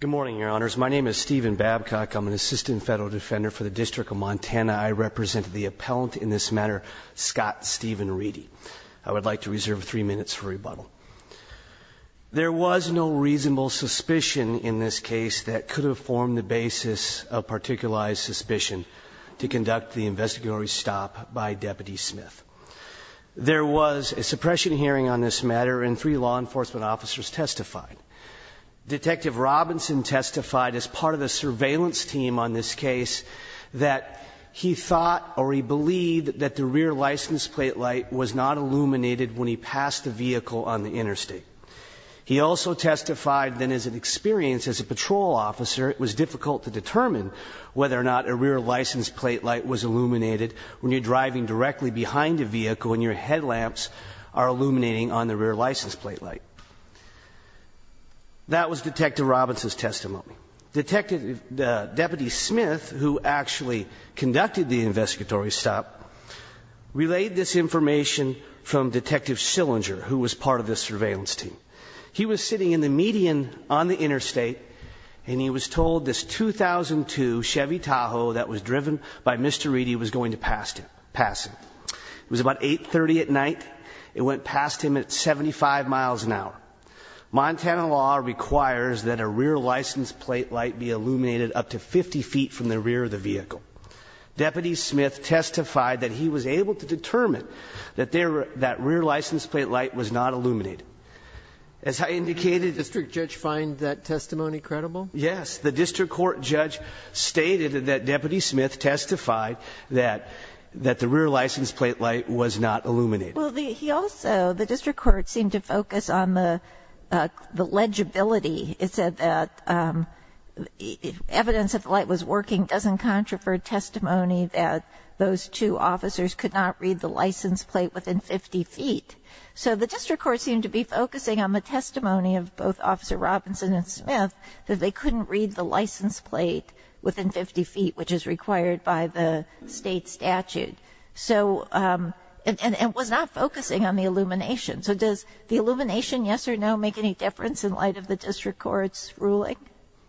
Good morning, Your Honors. My name is Stephen Babcock. I'm an Assistant Federal Defender for the District of Montana. I represent the appellant in this matter, Scott Stephen Reidy. I would like to reserve three minutes for rebuttal. There was no reasonable suspicion in this case that could have formed the basis of particularized suspicion to conduct the investigatory stop by Deputy Smith. There was a suppression hearing on this matter and three law enforcement officers testified. Detective Robinson testified as part of the surveillance team on this case that he thought or he believed that the rear license plate light was not illuminated when he passed the vehicle on the interstate. He also testified that as an experience as a patrol officer, it was difficult to determine whether or not a rear license plate light was illuminated when you're driving directly behind a vehicle and your headlamps are illuminating on the rear license plate light. That was Detective Robinson's testimony. Detective Deputy Smith, who actually conducted the investigatory stop, relayed this information from Detective Sillinger, who was part of the surveillance team. He was sitting in the median on the interstate and he was told this 2002 Chevy Tahoe that was driven by Mr. Reedy was going to pass him. It was about 830 at night. It went past him at 75 miles an hour. Montana law requires that a rear license plate light be illuminated up to 50 feet from the rear of the vehicle. Deputy Smith testified that he was able to determine that rear license plate light was not illuminated. As I indicated the district judge find that testimony credible. Yes. The district court judge stated that Deputy Smith testified that that the rear license plate light was not illuminated. Well, he also the district court seemed to focus on the legibility. It said that evidence of light was working doesn't contravert testimony that those two officers could not read the license plate within 50 feet. So the district court seemed to be focusing on the testimony of both Officer Robinson and Smith, that they couldn't read the license plate within 50 feet, which is required by the state statute. So it was not focusing on the illumination. So does the illumination, yes or no, make any difference in light of the district court's ruling?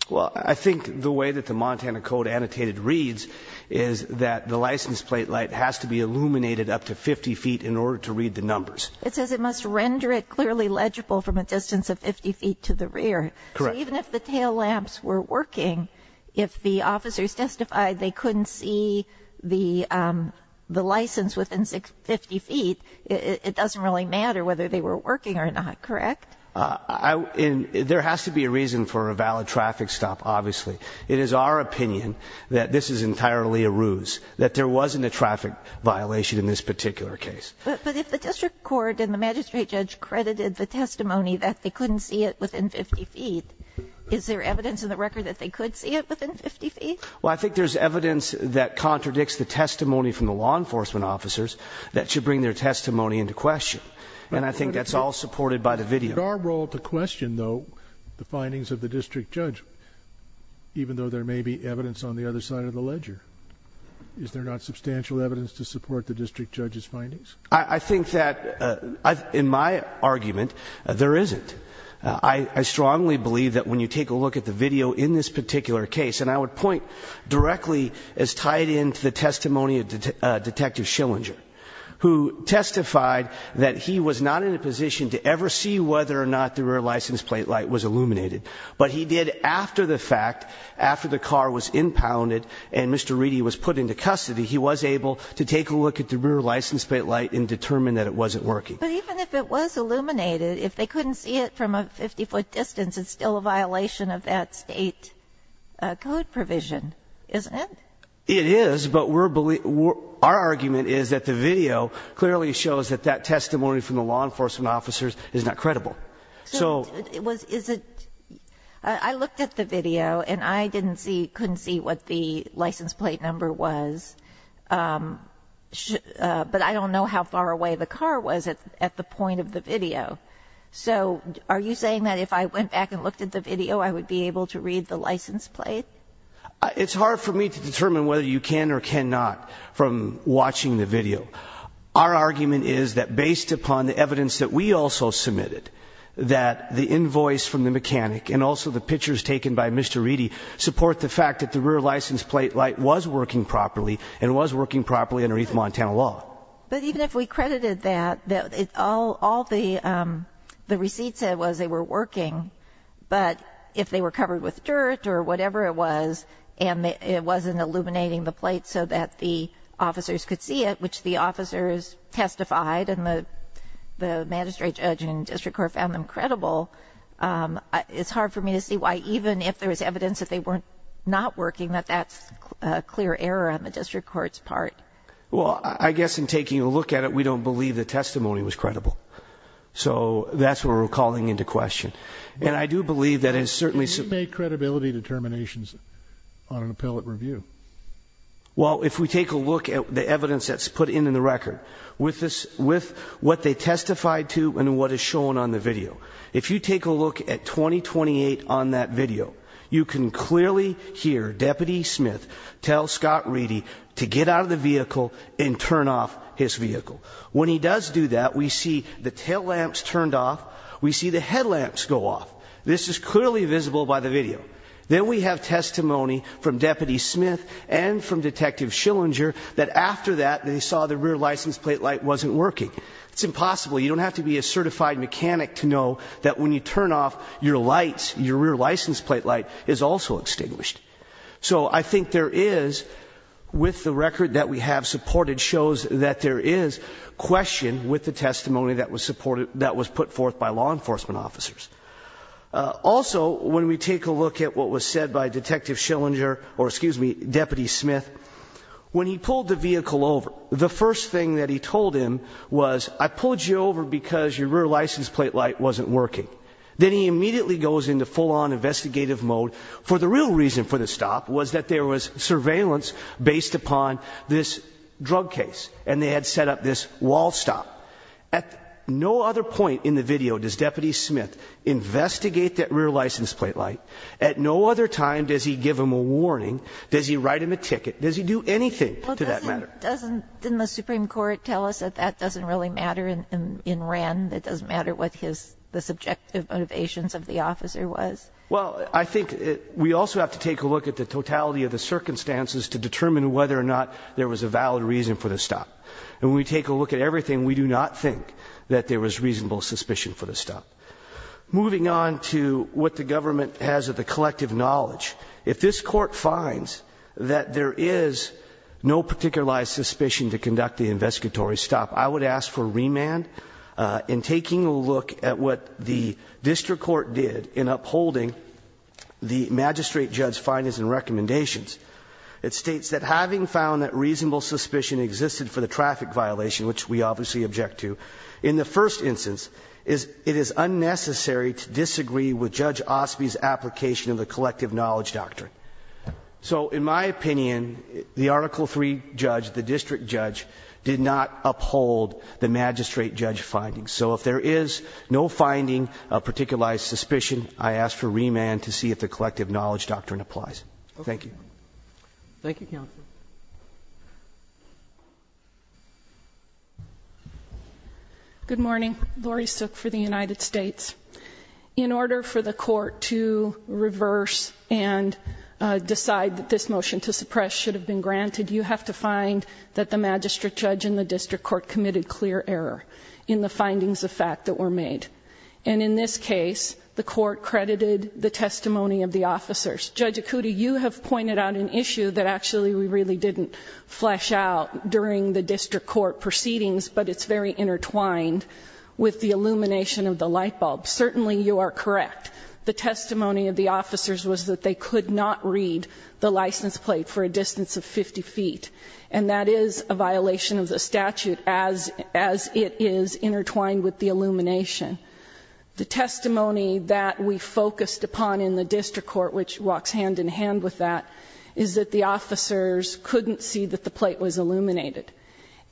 Well, I think the way that the Montana code annotated reads is that the license plate light has to be illuminated up to 50 feet in order to read the numbers. It says it must render it clearly legible from a distance of 50 feet to the rear. Even if the tail lamps were working, if the officers testified they couldn't see the the license within 50 feet, it doesn't really matter whether they were working or not. Correct. I mean, there has to be a reason for a valid traffic stop. Obviously, it is our opinion that this is entirely a ruse that there wasn't a traffic violation in this particular case. But if the district court and the magistrate judge credited the testimony that they couldn't see it within 50 feet, is there evidence in the record that they could see it within 50 feet? Well, I think there's evidence that contradicts the testimony from the law enforcement officers that should bring their testimony into question. And I think that's all supported by the video. It's our role to question, though, the findings of the district judge, even though there may be evidence on the other side of the ledger. Is there not substantial evidence to support the district judge's findings? I think that in my argument, there isn't. I strongly believe that when you take a look at the video in this particular case, and I would point directly as tied into the testimony of Detective Schillinger, who testified that he was not in a position to ever see whether or not the rear license plate light was illuminated. But he did after the fact, after the car was impounded and Mr. Reedy was put into custody, he was able to take a look at the rear license plate light and determine that it wasn't working. But even if it was illuminated, if they couldn't see it from a 50 foot distance, it's still a violation of that state code provision, isn't it? It is, but our argument is that the video clearly shows that that testimony from the law enforcement officers is not credible. I looked at the video and I couldn't see what the license plate number was, but I don't know how far away the car was at the point of the video. So are you saying that if I went back and looked at the video, I would be able to read the license plate? It's hard for me to determine whether you can or cannot from watching the video. Our argument is that the evidence that we also submitted, that the invoice from the mechanic and also the pictures taken by Mr. Reedy support the fact that the rear license plate light was working properly and was working properly underneath Montana law. But even if we credited that, all the receipts said was they were working, but if they were covered with dirt or whatever it was, and it wasn't illuminating the plate so that the officers could see it, which the magistrate judge and district court found them credible, it's hard for me to see why even if there was evidence that they weren't not working, that that's a clear error on the district court's part. Well, I guess in taking a look at it, we don't believe the testimony was credible. So that's what we're calling into question. And I do believe that it's certainly some credibility determinations on an appellate review. Well, if we take a look at the evidence that's put in the record with what they testified to and what is shown on the video, if you take a look at 2028 on that video, you can clearly hear Deputy Smith tell Scott Reedy to get out of the vehicle and turn off his vehicle. When he does do that, we see the tail lamps turned off. We see the headlamps go off. This is clearly visible by the video. Then we have testimony from Deputy Smith and from Detective Schillinger that after that they saw the rear license plate light wasn't working. It's impossible. You don't have to be a certified mechanic to know that when you turn off your lights, your rear license plate light is also extinguished. So I think there is, with the record that we have supported, shows that there is question with the testimony that was supported, that was put forth by law enforcement officers. Also, when we take a look at what was said by Detective Schillinger, or excuse me, Deputy Smith, when he pulled the vehicle over, the first thing that he told him was, I pulled you over because your rear license plate light wasn't working. Then he immediately goes into full-on investigative mode. For the real reason for the stop was that there was surveillance based upon this drug case and they had set up this wall stop. At no other point in the video does Deputy Smith investigate that rear license plate light. At no other time does he give him a warning. Does he write him a ticket? Does he do anything to that matter? Doesn't, didn't the Supreme Court tell us that that doesn't really matter in Wren? It doesn't matter what his, the subjective motivations of the officer was? Well, I think we also have to take a look at the totality of the circumstances to determine whether or not there was a valid reason for the stop. And when we take a look at everything, we do not think that there was reasonable suspicion for the stop. Moving on to what the government has of the collective knowledge. If this court finds that there is no particularized suspicion to conduct the investigatory stop, I would ask for remand in taking a look at what the district court did in upholding the magistrate judge's findings and recommendations. It states that having found that reasonable suspicion existed for the traffic violation, which we obviously object to, in the first instance, it is unnecessary to disagree with Judge Osby's application of the collective knowledge doctrine. So, in my opinion, the Article III judge, the district judge, did not uphold the magistrate judge findings. So if there is no finding of particularized suspicion, I ask for remand to see if the collective knowledge doctrine applies. Thank you. Thank you, counsel. Good morning. Lori Sook for the United States. In order for the court to reverse and decide that this motion to suppress should have been granted, you have to find that the magistrate judge in the district court committed clear error in the findings of fact that were made. And in this case, the court credited the testimony of the officers. Judge Acuti, you have pointed out an issue that actually we really didn't flesh out during the district court proceedings, but it's very intertwined with the illumination of the light bulb. Certainly, you are correct. The testimony of the officers was that they could not read the license plate for a distance of 50 feet. And that is a violation of the statute as it is intertwined with the illumination. The testimony that we focused upon in the district court, which walks hand in hand with that, is that the officers couldn't see that the plate was illuminated.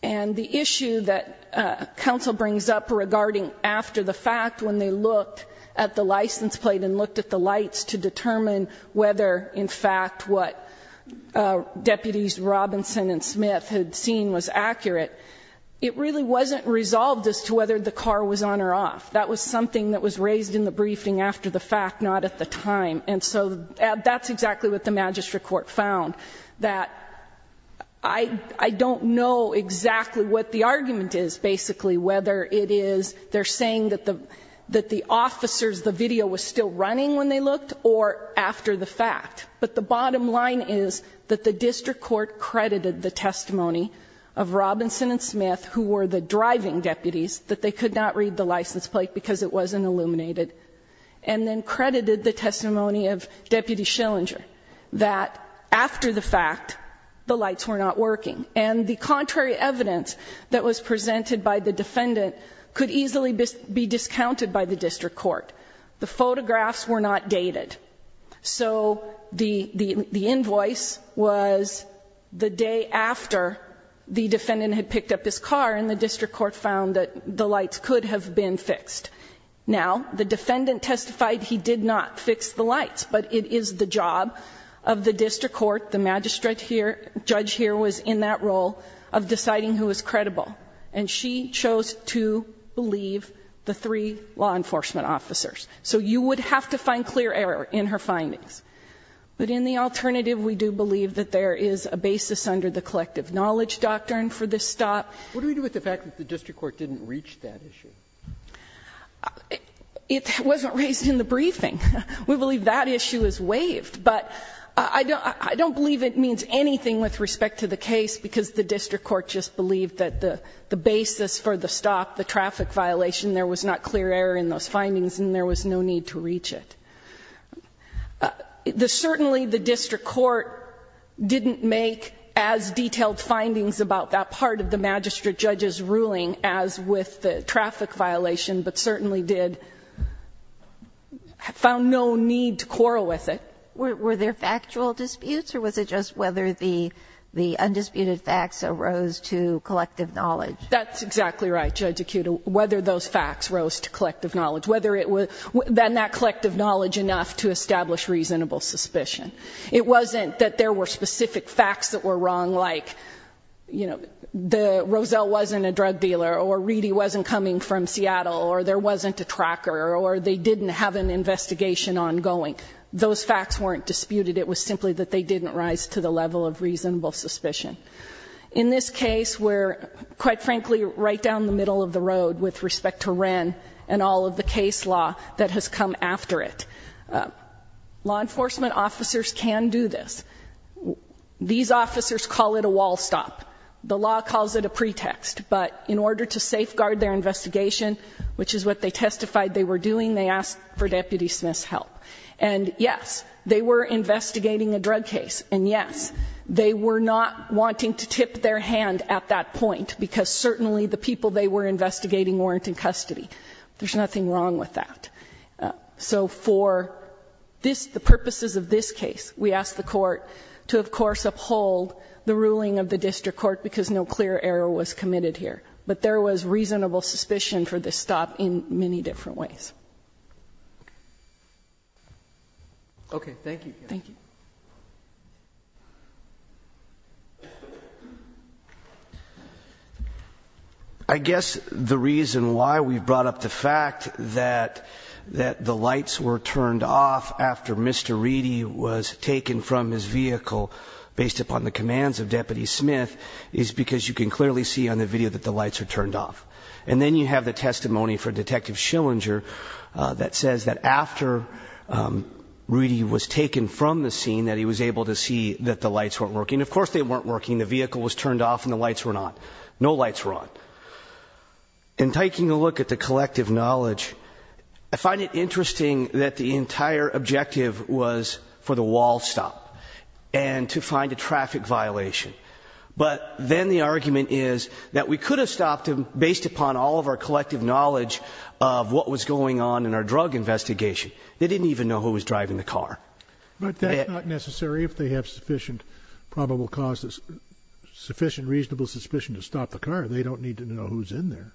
And the issue that counsel brings up regarding after the fact, when they looked at the license plate and looked at the lights to determine whether, in fact, what Deputies Robinson and Smith had seen was accurate, it really wasn't resolved as to whether the car was on or off. That was something that was raised in the briefing after the fact, not at the time. And so that's exactly what the magistrate court found, that I don't know exactly what the argument is basically, whether it is they're saying that the officers, the video was still running when they looked or after the fact. But the bottom line is that the district court credited the testimony of Robinson and Smith, who were the driving deputies, that they could not read the license plate because it wasn't illuminated, and then credited the testimony of Deputy Schillinger, that after the fact, the lights were not working. And the contrary evidence that was presented by the defendant could easily be discounted by the district court. The photographs were not dated. So the invoice was the day after the defendant had picked up his car, and the district court found that the lights could have been fixed. Now, the defendant testified he did not fix the lights, but it is the job of the district court, the magistrate judge here was in that role of deciding who was credible. And she chose to believe the three law enforcement officers. So you would have to find clear error in her findings. But in the alternative, we do believe that there is a basis under the collective knowledge doctrine for this stop. What do we do with the fact that the district court didn't reach that issue? It wasn't raised in the briefing. We believe that issue is waived. But I don't believe it means anything with respect to the case, because the district court just believed that the basis for the stop, the traffic violation, there was not clear error in those findings, and there was no need to reach it. Certainly the district court didn't make as detailed findings about that part of the magistrate judge's ruling as with the traffic violation, but certainly did, found no need to quarrel with it. Were there factual disputes, or was it just whether the undisputed facts arose to collective knowledge? That's exactly right, Judge Akuta. Whether those facts rose to collective knowledge. Whether it was, then that collective knowledge enough to establish reasonable suspicion. It wasn't that there were specific facts that were wrong, like, you know, Roselle wasn't a drug dealer, or Reedy wasn't coming from Seattle, or there wasn't a tracker, or they didn't have an investigation ongoing. Those facts weren't disputed. It was simply that they didn't rise to the level of reasonable suspicion. In this case, we're, quite frankly, right down the middle of the road with respect to Wren and all of the case law that has come after it. Law enforcement officers can do this. These officers call it a wall stop. The law calls it a pretext, but in order to safeguard their investigation, which is what they testified they were doing, they asked for Deputy Smith's help. And yes, they were investigating a drug case, and yes, they were not wanting to tip their hand at that point, because certainly the people they were investigating weren't in custody. There's nothing wrong with that. So for the purposes of this case, we asked the court to, of course, uphold the ruling of the district court, because no clear error was committed here. But there was reasonable suspicion for this stop in many different ways. Okay, thank you. I guess the reason why we brought up the fact that the lights were turned off after Mr. Reedy was taken from his vehicle, based upon the commands of Deputy Smith, is because you can clearly see on the video that the lights are turned off. And then you have the testimony for Detective Schillinger that says that after Reedy was taken from the scene that he was able to see that the lights weren't working. Of course they weren't working. The vehicle was turned off and the lights were on. No lights were on. In taking a look at the collective knowledge, I find it interesting that the entire objective was for the wall stop, and to find a traffic violation. But then the argument is that we didn't have the collective knowledge of what was going on in our drug investigation. They didn't even know who was driving the car. But that's not necessary if they have sufficient probable cause, sufficient reasonable suspicion to stop the car. They don't need to know who's in there.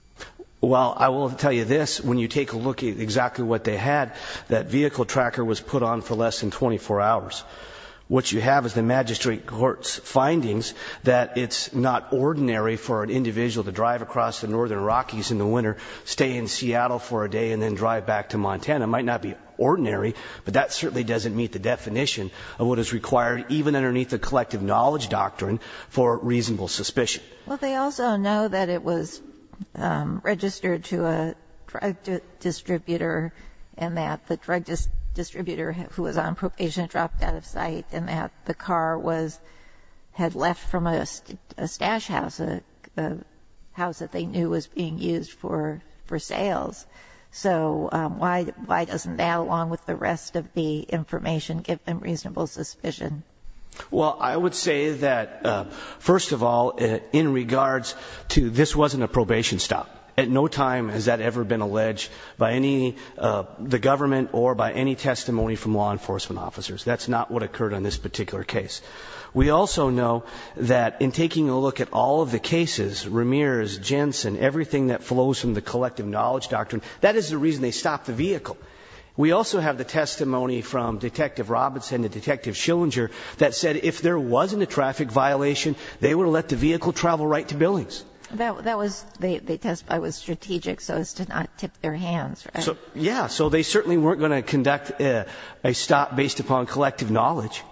Well I will tell you this, when you take a look at exactly what they had, that vehicle tracker was put on for less than 24 hours. What you have is the magistrate court's findings that it's not ordinary for an individual to drive across the northern Rockies in the winter, stay in Seattle for a day, and then drive back to Montana. It might not be ordinary, but that certainly doesn't meet the definition of what is required, even underneath the collective knowledge doctrine, for reasonable suspicion. Well they also know that it was registered to a drug distributor, and that the drug distributor who was on probation had dropped out of sight, and that the car had left from a stash house, a house that they knew was being used for sales. So why doesn't that, along with the rest of the information, give them reasonable suspicion? Well I would say that, first of all, in regards to this wasn't a probation stop. At no time has that ever been alleged by the government or by any testimony from law enforcement officers. That's not what occurred on this particular case. We also know that in taking a look at all of the cases, Ramirez, Jensen, everything that flows from the collective knowledge doctrine, that is the reason they stopped the vehicle. We also have the testimony from Detective Robinson and Detective Schillinger that said if there wasn't a traffic violation, they would have let the vehicle travel right to Billings. That was, the testify was strategic so as to not tip their hands, right? Yeah, so they certainly weren't going to conduct a stop based upon collective knowledge.